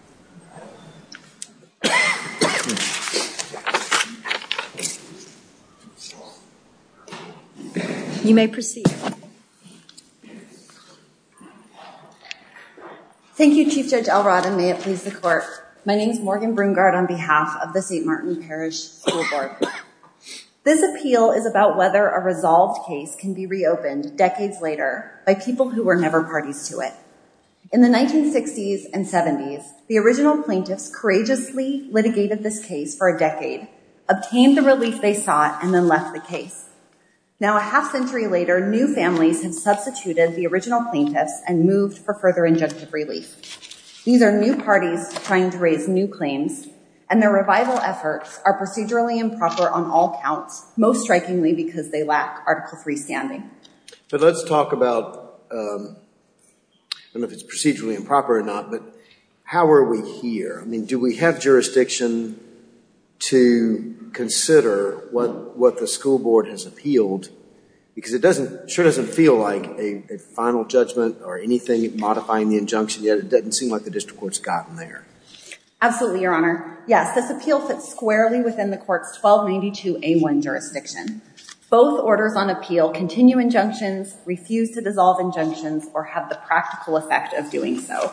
School Board. This appeal is about whether a resolved case can be reopened decades later by people who were never parties to it. In the 1960s and 70s, the original plaintiffs courageously litigated this case for a decade, obtained the relief they sought, and then left the case. Now a half century later, new families have substituted the original plaintiffs and moved for further injunctive relief. These are new parties trying to raise new claims, and their revival efforts are procedurally improper on all counts, most strikingly because they lack Article III standing. But let's talk about, I don't know if it's procedurally improper or not, but how are we here? I mean, do we have jurisdiction to consider what the school board has appealed? Because it doesn't, it sure doesn't feel like a final judgment or anything modifying the injunction, yet it doesn't seem like the district court's gotten there. Absolutely, Your Honor. Yes, this appeal fits squarely within the court's 1292A1 jurisdiction. Both orders on appeal continue injunctions, refuse to dissolve injunctions, or have the practical effect of doing so.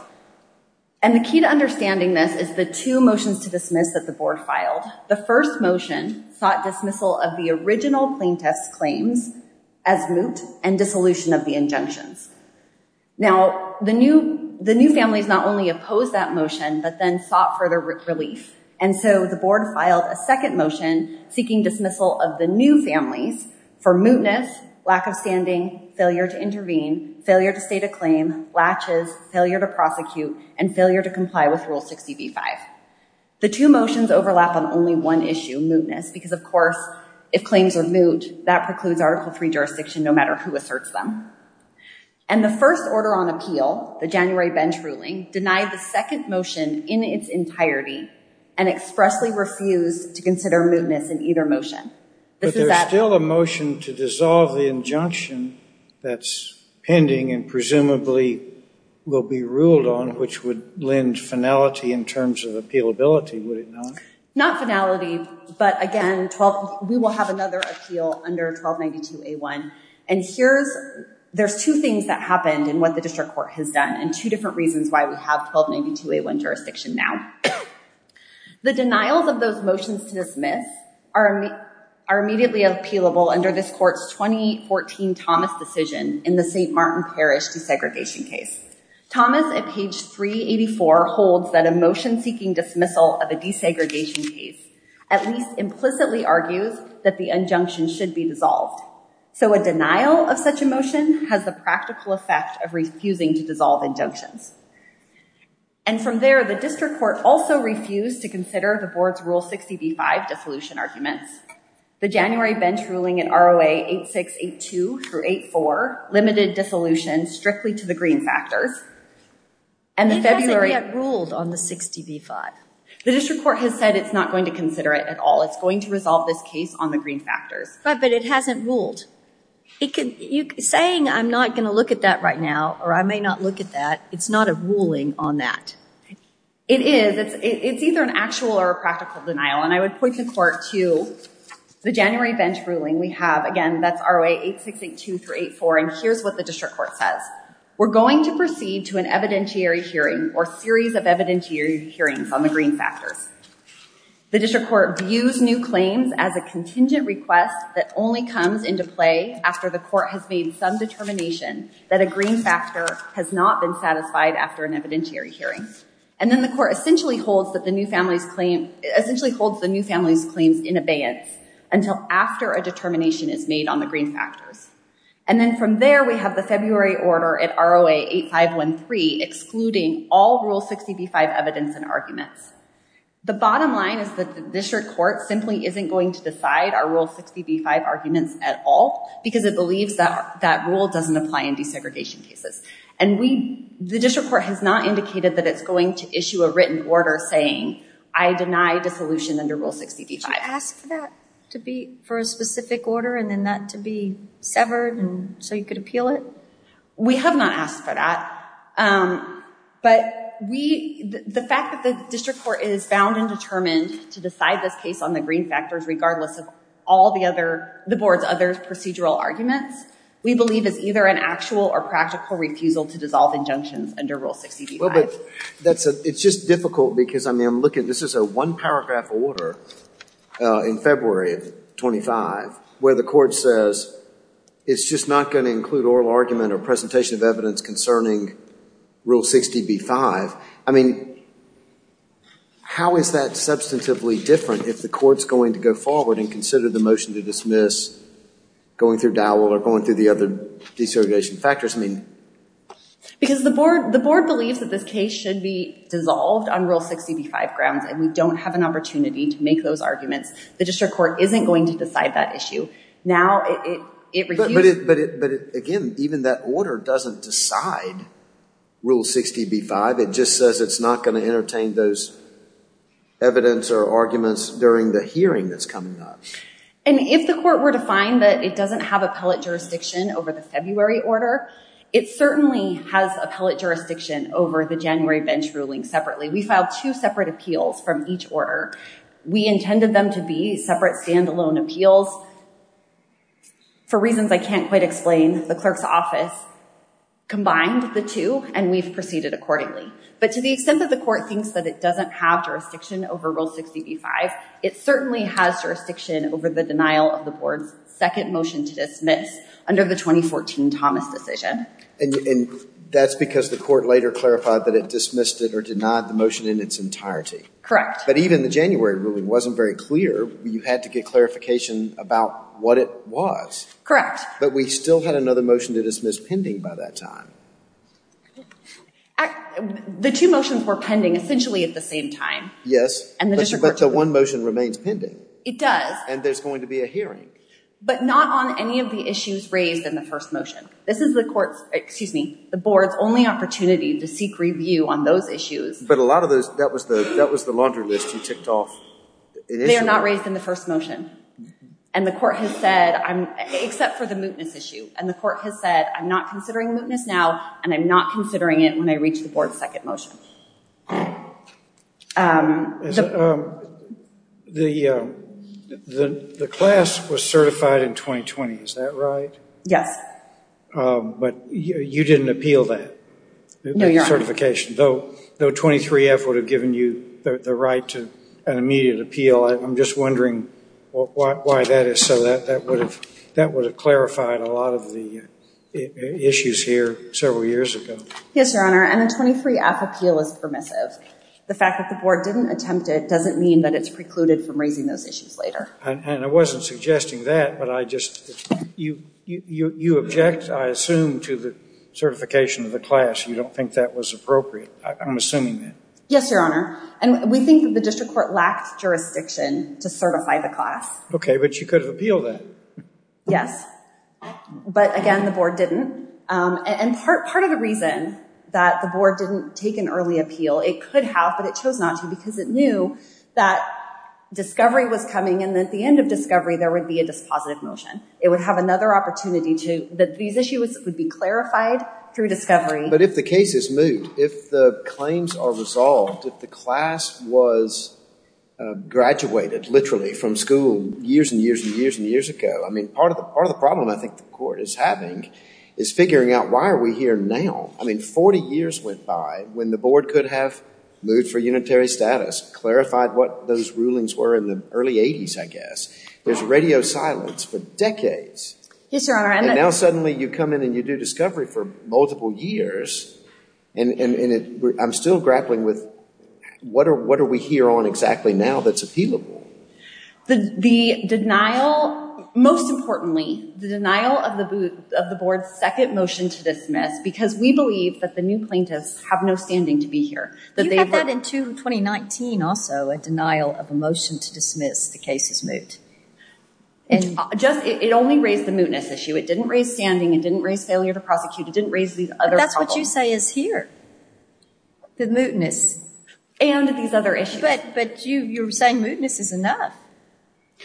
And the key to understanding this is the two motions to dismiss that the board filed. The first motion sought dismissal of the original plaintiffs' claims as moot and dissolution of the injunctions. Now, the new families not only opposed that motion, but then sought further relief. And so the board filed a second motion seeking dismissal of the new families for mootness, lack of standing, failure to intervene, failure to state a claim, latches, failure to prosecute, and failure to comply with Rule 60b-5. The two motions overlap on only one issue, mootness, because of course, if claims are moot, that precludes Article III jurisdiction no matter who asserts them. And the first order on appeal, the January bench ruling, denied the second motion in its entirety and expressly refused to consider mootness in either motion. But there's still a motion to dissolve the injunction that's pending and presumably will be ruled on, which would lend finality in terms of appealability, would it not? Not finality, but again, we will have another appeal under 1292A1. And there's two things that happened in what the district court has done and two different reasons why we have 1292A1 jurisdiction now. The denials of those motions to dismiss are immediately appealable under this court's 2014 Thomas decision in the St. Martin Parish desegregation case. Thomas, at page 384, holds that a motion seeking dismissal of a desegregation case at least implicitly argues that the injunction should be dissolved. So a denial of such a motion has the practical effect of refusing to dissolve injunctions. And from there, the district court also refused to consider the board's Rule 60b-5 dissolution arguments. The January bench ruling in ROA 8682-84 limited dissolution strictly to the green factors. And the February— It hasn't yet ruled on the 60b-5. The district court has said it's not going to consider it at all. It's going to resolve this case on the green factors. Right, but it hasn't ruled. Saying I'm not going to look at that right now or I may not look at that, it's not a ruling on that. It is. It's either an actual or a practical denial. And I would point the court to the January bench ruling we have. Again, that's ROA 8682-84. And here's what the district court says. We're going to proceed to an evidentiary hearing or series of evidentiary hearings on the green factors. The district court views new claims as a contingent request that only comes into play after the court has made some determination that a green factor has not been satisfied after an evidentiary hearing. And then the court essentially holds that the new family's claim—essentially holds the new family's claims in abeyance until after a determination is made on the green factors. And then from there, we have the February order at ROA 8513 excluding all Rule 60b-5 evidence and arguments. The bottom line is that the district court simply isn't going to decide our Rule 60b-5 arguments at all because it believes that that rule doesn't apply in desegregation cases. And we—the district court has not indicated that it's going to issue a written order saying I deny dissolution under Rule 60b-5. Did you ask for that to be—for a specific order and then that to be severed so you could repeal it? We have not asked for that. But we—the fact that the district court is bound and determined to decide this case on the green factors regardless of all the other—the board's other procedural arguments, we believe is either an actual or practical refusal to dissolve injunctions under Rule 60b-5. Well, but that's a—it's just difficult because I mean I'm looking—this is a one paragraph order in February of 25 where the court says it's just not going to include oral argument or presentation of evidence concerning Rule 60b-5. I mean, how is that substantively different if the court's going to go forward and consider the motion to dismiss going through Dowell or going through the other desegregation factors? I mean— Because the board—the board believes that this case should be dissolved on Rule 60b-5 and we don't have an opportunity to make those arguments. The district court isn't going to decide that issue. Now, it refuses— But again, even that order doesn't decide Rule 60b-5. It just says it's not going to entertain those evidence or arguments during the hearing that's coming up. And if the court were to find that it doesn't have appellate jurisdiction over the February order, it certainly has appellate jurisdiction over the January bench ruling separately. We filed two separate appeals from each order. We intended them to be separate standalone appeals. For reasons I can't quite explain, the clerk's office combined the two and we've proceeded accordingly. But to the extent that the court thinks that it doesn't have jurisdiction over Rule 60b-5, it certainly has jurisdiction over the denial of the board's second motion to dismiss under the 2014 Thomas decision. And that's because the court later clarified that it dismissed it or denied the motion in its entirety. But even the January ruling wasn't very clear. You had to get clarification about what it was. Correct. But we still had another motion to dismiss pending by that time. The two motions were pending essentially at the same time. Yes. And the district court— But the one motion remains pending. It does. And there's going to be a hearing. But not on any of the issues raised in the first motion. This is the board's only opportunity to seek review on those issues. But a lot of those, that was the laundry list you ticked off initially. They are not raised in the first motion. And the court has said, except for the mootness issue, and the court has said, I'm not considering mootness now and I'm not considering it when I reach the board's second motion. The class was certified in 2020. Is that right? Yes. But you didn't appeal that certification, though 23F would have given you the right to an immediate appeal. I'm just wondering why that is so. That would have clarified a lot of the issues here several years ago. Yes, Your Honor. And the 23F appeal is permissive. The fact that the board didn't attempt it doesn't mean that it's precluded from raising those issues later. And I wasn't suggesting that, but I just—you object, I assume, to the certification of the class. You don't think that was appropriate. I'm assuming that. Yes, Your Honor. And we think that the district court lacked jurisdiction to certify the class. Okay, but you could have appealed that. Yes. But again, the board didn't. And part of the reason that the board didn't take an early appeal, it could have, but it chose not to because it knew that discovery was coming and at the end of discovery there would be a dispositive motion. It would have another opportunity to—that these issues would be clarified through discovery. But if the case is moot, if the claims are resolved, if the class was graduated, literally, from school years and years and years and years ago, I mean, part of the problem I think the court is having is figuring out why are we here now? I mean, 40 years went by when the board could have moved for unitary status, clarified what those rulings were in the early 80s, I guess. There's radio silence for decades. Yes, Your Honor. And now suddenly you come in and you do discovery for multiple years and I'm still grappling with what are we here on exactly now that's doable? The denial, most importantly, the denial of the board's second motion to dismiss because we believe that the new plaintiffs have no standing to be here. You had that in 2019 also, a denial of a motion to dismiss the case is moot. It only raised the mootness issue. It didn't raise standing. It didn't raise failure to prosecute. It didn't raise these other problems. That's what you say is here, the mootness and these other issues. But you're saying mootness is enough.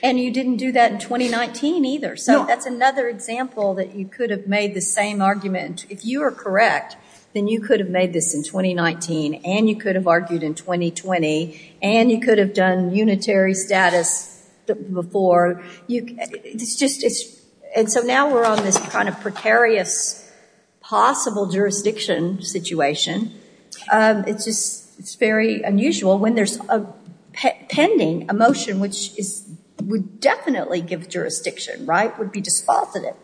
And you didn't do that in 2019 either, so that's another example that you could have made the same argument. If you are correct, then you could have made this in 2019 and you could have argued in 2020 and you could have done unitary status before. And so now we're on this kind of precarious possible jurisdiction situation. It's just very unusual when there's a pending, a motion which would definitely give jurisdiction, right, would be dispositive.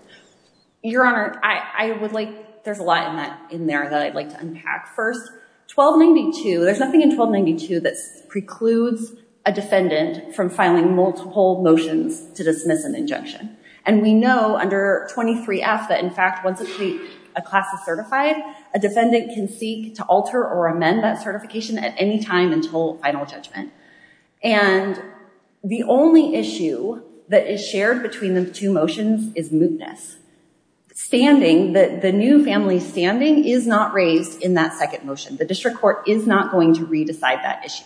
Your Honor, I would like, there's a lot in there that I'd like to unpack. First, 1292, there's nothing in 1292 that precludes a defendant from filing multiple motions to dismiss an injunction. And we know under 23F that in a case where a defendant is certified, a defendant can seek to alter or amend that certification at any time until final judgment. And the only issue that is shared between the two motions is mootness. Standing, the new family standing is not raised in that second motion. The district court is not going to re-decide that issue.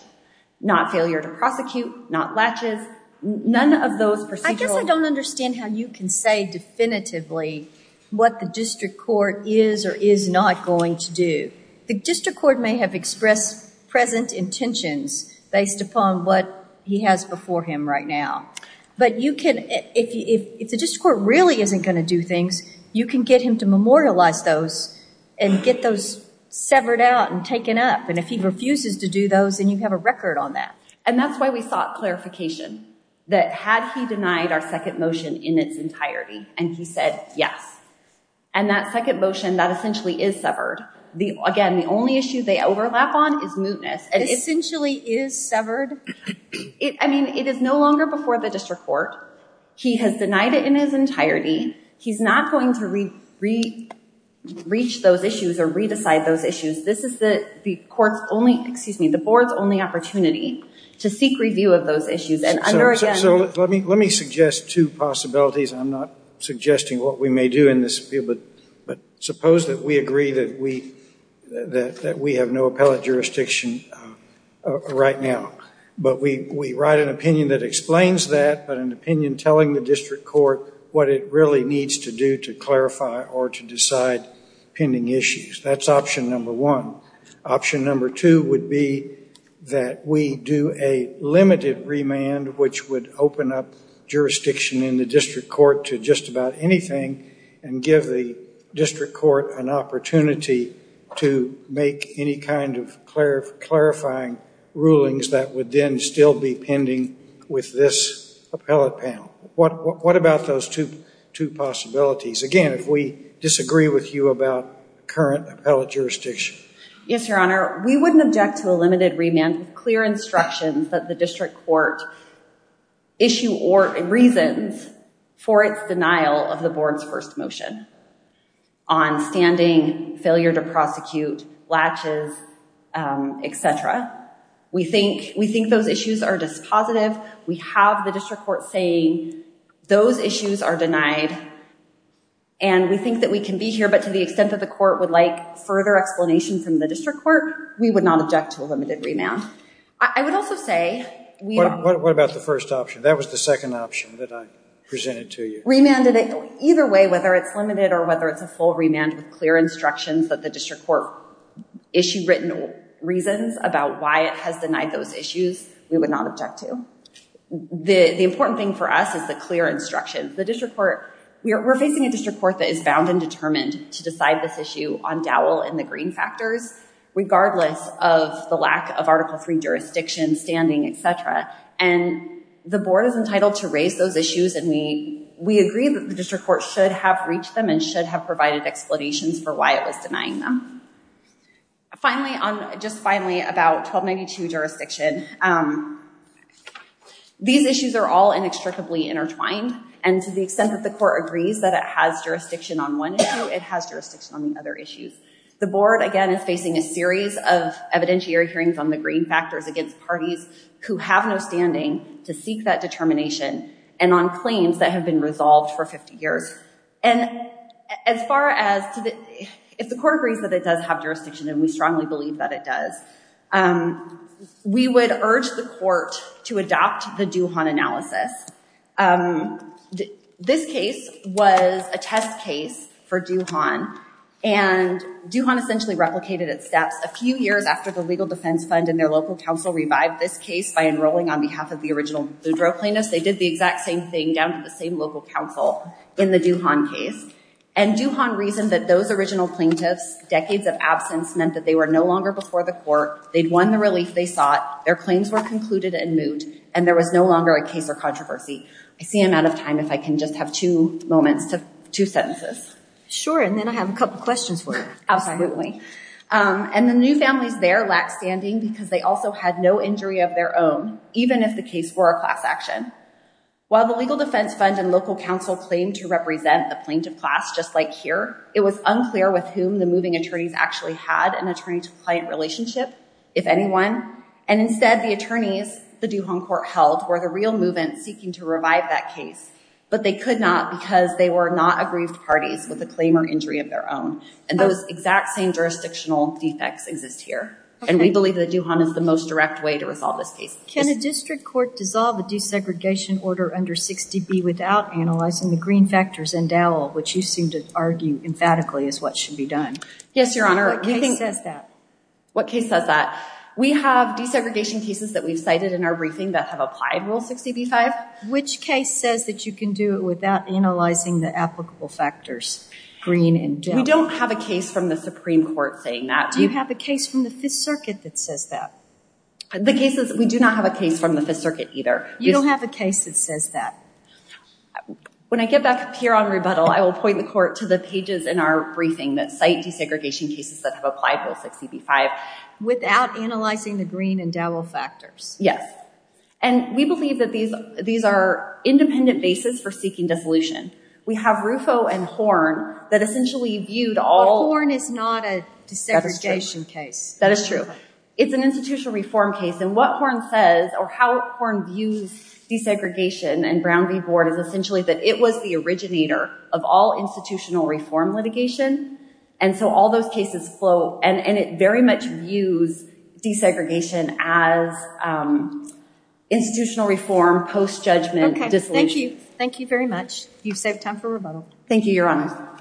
Not failure to prosecute, not latches, none of those procedural... I guess I don't understand how you can say definitively what the district court is or is not going to do. The district court may have expressed present intentions based upon what he has before him right now. But you can, if the district court really isn't going to do things, you can get him to memorialize those and get those severed out and taken up. And if he refuses to do those, then you have a record on that. And that's why we sought clarification that had he denied our second motion in its entirety. And he said, yes. And that second motion, that essentially is severed. Again, the only issue they overlap on is mootness. Essentially is severed? I mean, it is no longer before the district court. He has denied it in his entirety. He's not going to reach those issues or re-decide those issues. This is the board's only opportunity to seek review of those issues. So let me suggest two possibilities. I'm not suggesting what we may do in this field, but suppose that we agree that we have no appellate jurisdiction right now. But we write an opinion that explains that, but an opinion telling the district court what it really needs to do to clarify or to decide pending issues. That's option number one. Option number two would be that we do a limited remand, which would open up jurisdiction in the district court to just about anything and give the district court an opportunity to make any kind of clarifying rulings that would then still be pending with this appellate panel. What about those two possibilities? Again, if we disagree with you about current appellate jurisdiction. Yes, your honor. We wouldn't object to a limited remand with clear instructions that the district court issue or reasons for its denial of the board's first motion on standing, failure to prosecute, latches, et cetera. We think those issues are dispositive. We have the district court saying those issues are denied and we think that we can be here, but to the extent that the court would like further explanations from the district court, we would not object to a limited remand. I would also say What about the first option? That was the second option that I presented to you. Remanded either way, whether it's limited or whether it's a full remand with clear instructions that the district court issue written reasons about why it has denied those issues, we would object to. The important thing for us is the clear instructions. The district court, we're facing a district court that is bound and determined to decide this issue on dowel and the green factors, regardless of the lack of article three jurisdiction standing, et cetera. The board is entitled to raise those issues and we agree that the district court should have reached them and should have provided explanations for why it was denying them. Finally, just finally, about 1292 jurisdiction. These issues are all inextricably intertwined and to the extent that the court agrees that it has jurisdiction on one issue, it has jurisdiction on the other issues. The board, again, is facing a series of evidentiary hearings on the green factors against parties who have no standing to seek that determination and on claims that have been resolved for 50 years. And as far as if the court agrees that it does have jurisdiction and we strongly believe that it does, we would urge the court to adopt the Duhon analysis. This case was a test case for Duhon and Duhon essentially replicated its steps a few years after the legal defense fund and their local council revived this case by enrolling on behalf of the original Zudro plaintiffs. They did the same thing down to the same local council in the Duhon case. And Duhon reasoned that those original plaintiffs' decades of absence meant that they were no longer before the court, they'd won the relief they sought, their claims were concluded in moot, and there was no longer a case or controversy. I see I'm out of time if I can just have two moments, two sentences. Sure, and then I have a couple questions for you. Absolutely. And the new families there lack standing because they also had no injury of their own, even if the case were a class action. While the legal defense fund and local council claimed to represent the plaintiff class just like here, it was unclear with whom the moving attorneys actually had an attorney-to-client relationship, if anyone. And instead, the attorneys the Duhon court held were the real movement seeking to revive that case, but they could not because they were not aggrieved parties with a claim or injury of their own. And those exact same jurisdictional defects exist here. And we believe that Duhon is the most direct way to Can a district court dissolve a desegregation order under 60B without analyzing the green factors endowal, which you seem to argue emphatically is what should be done? Yes, Your Honor. What case says that? What case says that? We have desegregation cases that we've cited in our briefing that have applied Rule 60B-5. Which case says that you can do it without analyzing the applicable factors, green endowal? We don't have a case from the Supreme Court saying that. Do you have a case from the Fifth Circuit that says that? The case is, we do not have a case from the Fifth Circuit either. You don't have a case that says that? When I get back up here on rebuttal, I will point the court to the pages in our briefing that cite desegregation cases that have applied Rule 60B-5. Without analyzing the green endowal factors? Yes. And we believe that these are independent bases for seeking dissolution. We have Rufo and Horn that essentially viewed all... But Horn is not a desegregation case. That is true. It's an institutional reform case. And what Horn says or how Horn views desegregation and Brown v. Board is essentially that it was the originator of all institutional reform litigation. And so all those cases flow, and it very much views desegregation as institutional reform post-judgment dissolution. Thank you very much. You've saved time for rebuttal. Thank you, Your Honor.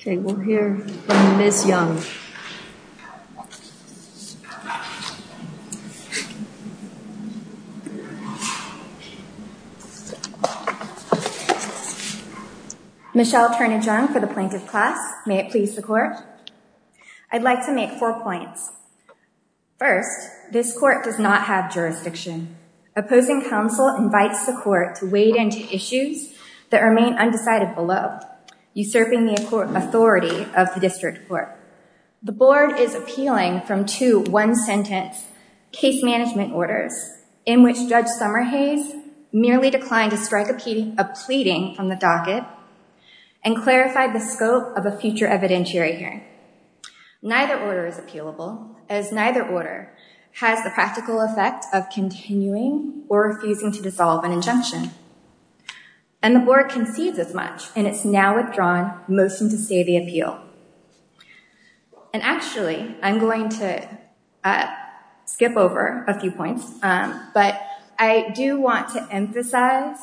Okay. We'll hear from Ms. Young. Michelle Turnage Young for the Plaintiff's Class. May it please the Court? I'd like to make four points. First, this Court does not have jurisdiction. Opposing counsel invites the Court to wade into issues that remain undecided below, usurping the authority of the district court. The Board is appealing from two one-sentence case management orders in which Judge Summerhase merely declined to strike a pleading from the docket and clarified the scope of a future evidentiary hearing. Neither order is appealable as neither order has the practical effect of continuing or refusing to dissolve an injunction. And the Board concedes as much, and it's now withdrawn motion to stay the appeal. And actually, I'm going to skip over a few points, but I do want to emphasize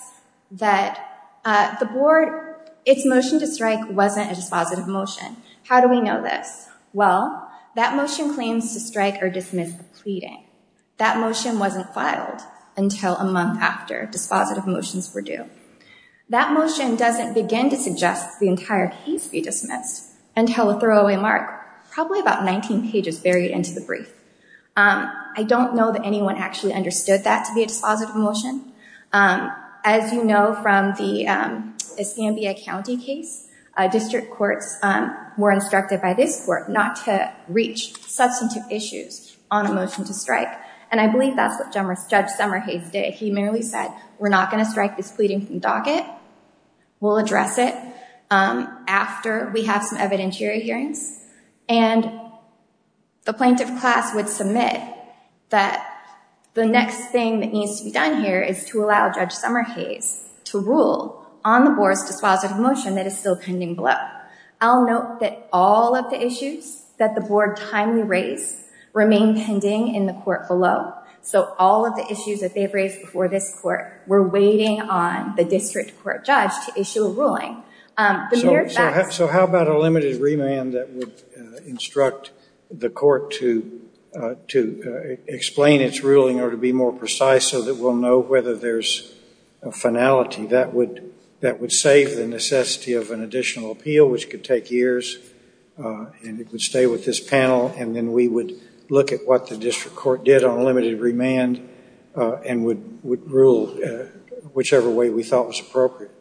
that the Board, its motion to strike wasn't a dispositive motion. How do we know this? Well, that motion claims to strike or dismiss the pleading. That motion wasn't filed until a month after dispositive motions were due. That motion doesn't begin to suggest the entire case be dismissed until a throwaway mark, probably about 19 pages buried into the brief. I don't know that anyone actually understood that to be a dispositive motion. As you know from the Escambia County case, district courts were instructed by this court not to reach substantive issues on a motion to strike. And I believe that's what Judge Summerhase did. He merely said, we're not going to strike this pleading from docket. We'll address it after we have some evidentiary hearings. And the plaintiff class would submit that the next thing that needs to be done here is to allow Judge Summerhase to rule on the Board's dispositive motion that is still pending below. I'll note that all of the issues that the Board timely raised remain pending in the court below. So all of the issues that they've raised before this court were waiting on the district court judge to issue a ruling. So how about a limited remand that would instruct the court to explain its ruling or to be more precise so that we'll know whether there's a finality that would save the necessity of an additional appeal, which could take years, and it would stay with this panel. And then we would look at what the district court did on limited remand and would rule whichever way we thought was appropriate.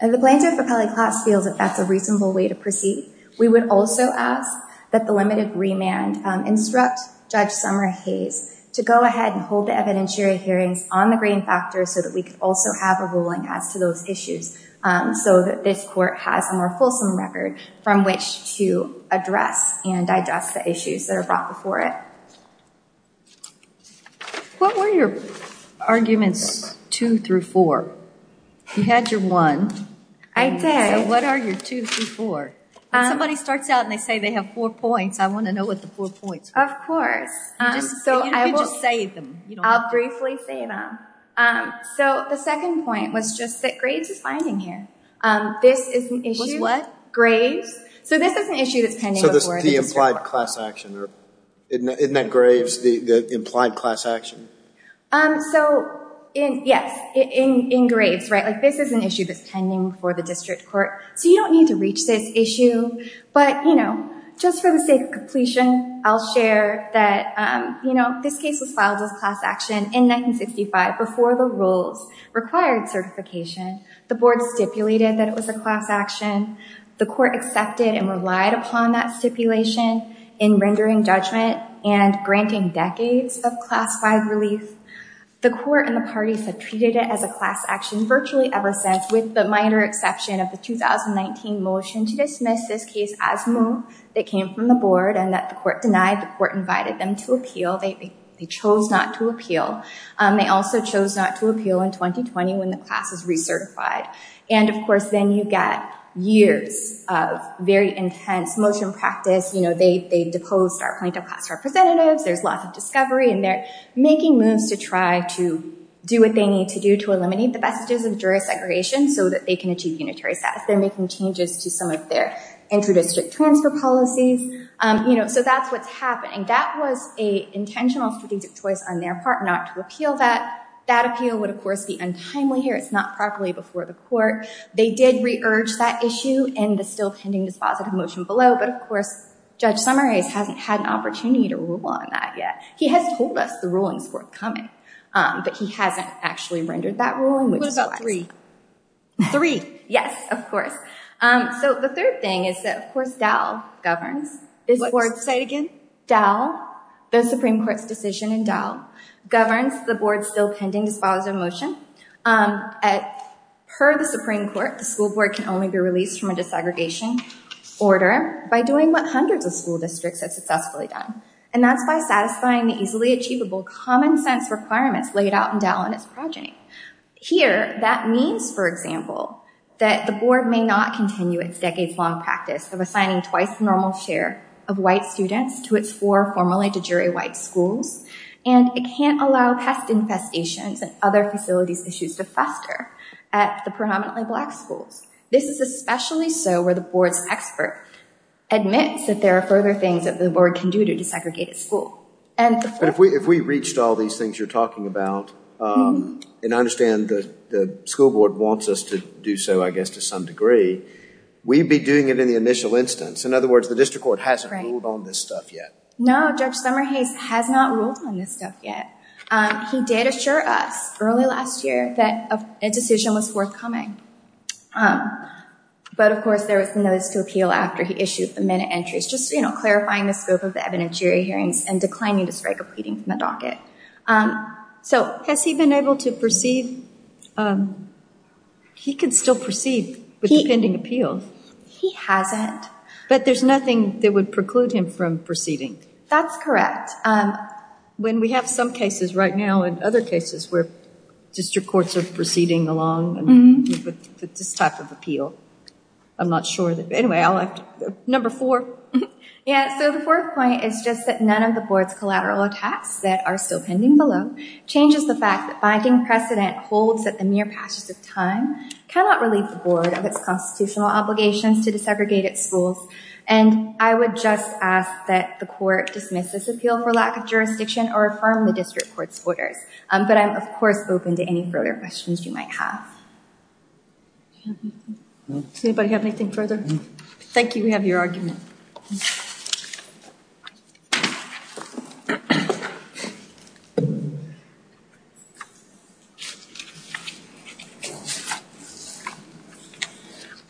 And the plaintiff appellee class feels that that's a reasonable way to proceed. We would also ask that the limited remand instruct Judge Summerhase to go ahead and hold the evidentiary hearings on the grain factor so that we could also have a ruling as to those issues so that this court has a more fulsome record from which to address and digest the issues that are brought before it. What were your arguments two through four? You had your one. I did. So what are your two through four? When somebody starts out and they say they have four points, I want to know what the four points are. Of course. You could just say them. I'll briefly say them. So the second point was just that Graves is finding here. This is an issue. Was what? Graves. So this is an issue that's pending before the district court. So this is the implied class action. Isn't that Graves, the implied class action? So yes, in Graves, right? This is an issue that's pending before the district court. So you don't need to reach this issue. But just for the sake of completion, I'll share that this case was filed as class action in 1965 before the rules required certification. The board stipulated that it was a class action. The court accepted and relied upon that stipulation in rendering judgment and granting decades of class five relief. The court and the 2019 motion to dismiss this case as move that came from the board and that the court denied. The court invited them to appeal. They chose not to appeal. They also chose not to appeal in 2020 when the class is recertified. And of course, then you get years of very intense motion practice. They deposed our plaintiff class representatives. There's lots of discovery and they're making moves to try to do what they need to do to eliminate the messages of jurisdiction so that they can achieve unitary status. They're making changes to some of their inter-district transfer policies. So that's what's happening. That was a intentional strategic choice on their part not to appeal that. That appeal would of course be untimely here. It's not properly before the court. They did re-urge that issue and the still pending dispositive motion below. But of course, Judge Summers hasn't had an opportunity to rule on that yet. He has told us the ruling is forthcoming, but he hasn't actually rendered that ruling. What about three? Three? Yes, of course. So the third thing is that, of course, Dow governs. Say it again? The Supreme Court's decision in Dow governs the board's still pending dispositive motion. Per the Supreme Court, the school board can only be released from a desegregation order by doing what hundreds of school districts have successfully done. And that's by satisfying the easily achievable common sense requirements laid out in Dow on its progeny. Here, that means, for example, that the board may not continue its decades-long practice of assigning twice the normal share of white students to its four formerly de jure white schools. And it can't allow pest infestations and other facilities issues to fester at the predominantly black schools. This is especially so where the board's expert admits that there are further things that the board can do to address the issue of segregated school. But if we reached all these things you're talking about, and I understand the school board wants us to do so, I guess, to some degree, we'd be doing it in the initial instance. In other words, the district court hasn't ruled on this stuff yet. No, Judge Summerhase has not ruled on this stuff yet. He did assure us early last year that a decision was forthcoming. But, of course, there was the notice to appeal after he issued the de jure hearings and declining to strike a pleading from the docket. So has he been able to proceed? He can still proceed with the pending appeal. He hasn't. But there's nothing that would preclude him from proceeding. That's correct. When we have some cases right now and other cases where district courts are proceeding along with this type of appeal, I'm not sure. Anyway, I'll have to, number four. Yeah, so the fourth point is just that none of the board's collateral attacks that are still pending below changes the fact that binding precedent holds that the mere passage of time cannot relieve the board of its constitutional obligations to desegregated schools. And I would just ask that the court dismiss this appeal for lack of jurisdiction or affirm the district court's orders. But I'm, of course, open to any further questions you might have. Does anybody have anything further? Thank you. We have your argument.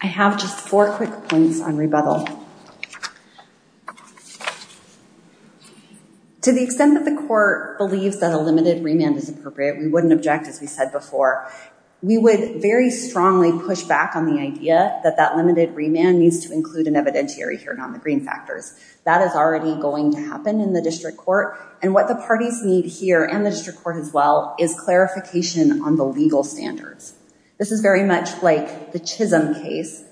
I have just four quick points on rebuttal. To the extent that the court believes that a limited remand is appropriate, we wouldn't object, as we said before. We would very strongly push back on the idea that that limited remand needs to include an evidentiary hearing on the green factors. That is already going to happen in the district court. And what the parties need here, and the district court as well, is clarification on the legal standards. This is very much like the Chisholm case.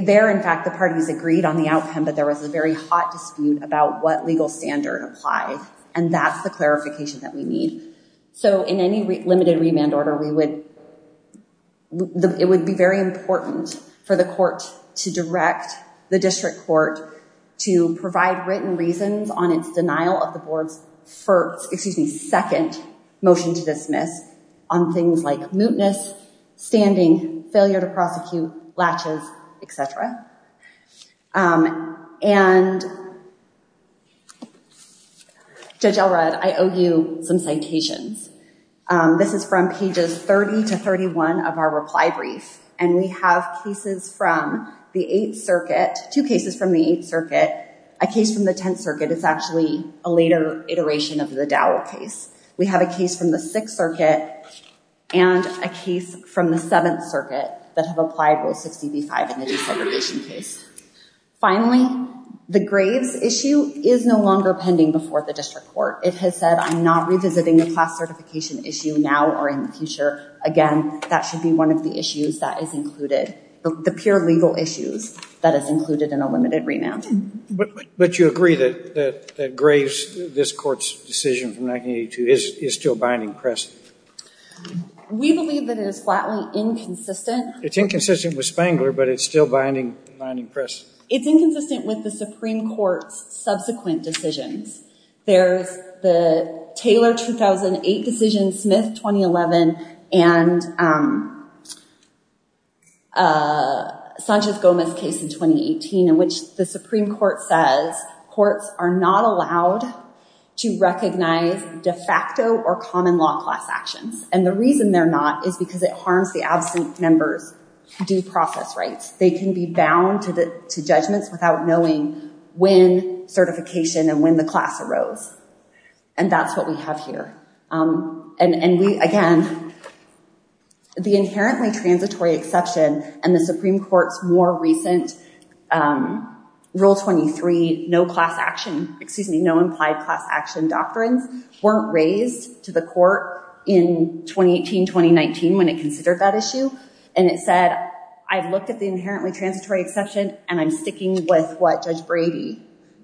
There, in fact, the parties agreed on the outcome, but there was a very hot dispute about what legal standard applied. And that's the clarification that we need. So in any limited remand order, it would be very important for the court to direct the district court to provide written reasons on its denial of the board's second motion to dismiss on things like mootness, standing, failure to prosecute, latches, et cetera. And Judge Elrod, I owe you some citations. This is from pages 30 to 31 of our reply brief. And we have cases from the 8th Circuit, two cases from the 8th Circuit, a case from the 10th Circuit. It's actually a later iteration of the Dowell case. We have a case from the 6th Circuit and a case from the 7th Circuit that have applied Roe 60 v. 5 in the desegregation case. Finally, the Graves issue is no longer pending before the district court. It has said, I'm not revisiting the class certification issue now or in the future. Again, that should be one of the issues that is included, the pure legal issues that is included in a limited remand. But you agree that Graves, this court's decision from 1982, is still binding press? We believe that it is flatly inconsistent. It's inconsistent with Spangler, but it's still binding press? It's inconsistent with the Supreme Court's subsequent decisions. There's the Taylor 2008 decision, Smith 2011, and Sanchez-Gomez case in 2018 in which the Supreme Court says courts are not allowed to recognize de facto or common law class actions. And the reason they're not is because it harms the absent member's due process rights. They can be bound to judgments without knowing when certification and when the class arose. And that's what we have here. And we, again, the inherently transitory exception and the Supreme Court's more recent Rule 23, no class action, excuse me, no implied class action doctrines weren't raised to the court in 2018-2019 when it considered that issue. And it said, I've looked at the inherently transitory exception and I'm sticking with what Judge Brady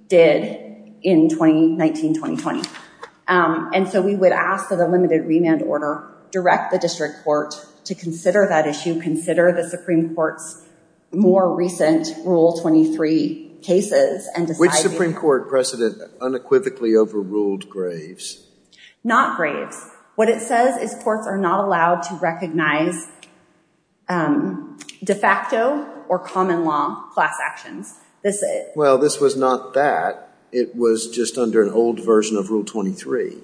did in 2019-2020. And so we would ask for the limited remand order, direct the district court to consider that issue, consider the Supreme Court's more recent Rule 23 cases and decide- Which Supreme Court precedent unequivocally overruled Graves? Not Graves. What it says is courts are not allowed to recognize de facto or common law class actions. Well, this was not that. It was just under an old version of Rule 23.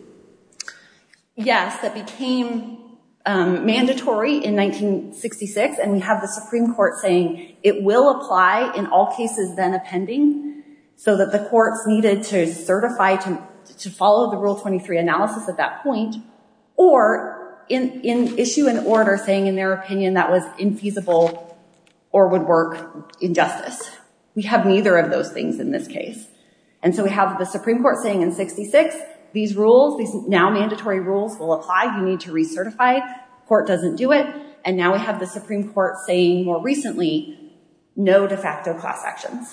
Yes, that became mandatory in 1966. And we have the Supreme Court saying it will apply in all cases then appending so that the courts needed to certify to follow the Rule 23 analysis at that or in issue an order saying in their opinion that was infeasible or would work in justice. We have neither of those things in this case. And so we have the Supreme Court saying in 66, these rules, these now mandatory rules will apply. You need to recertify, court doesn't do it. And now we have the Supreme Court saying more recently, no de facto class actions.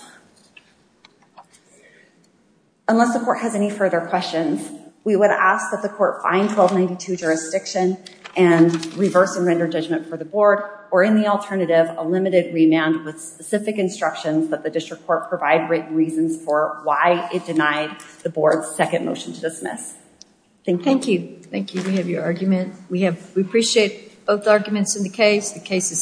Unless the court has any further questions, we would ask that the court find 1292 jurisdiction and reverse and render judgment for the board or in the alternative, a limited remand with specific instructions that the district court provide written reasons for why it denied the board's second motion to dismiss. Thank you. Thank you. Thank you. We have your argument. We appreciate both arguments in the case. The case is submitted.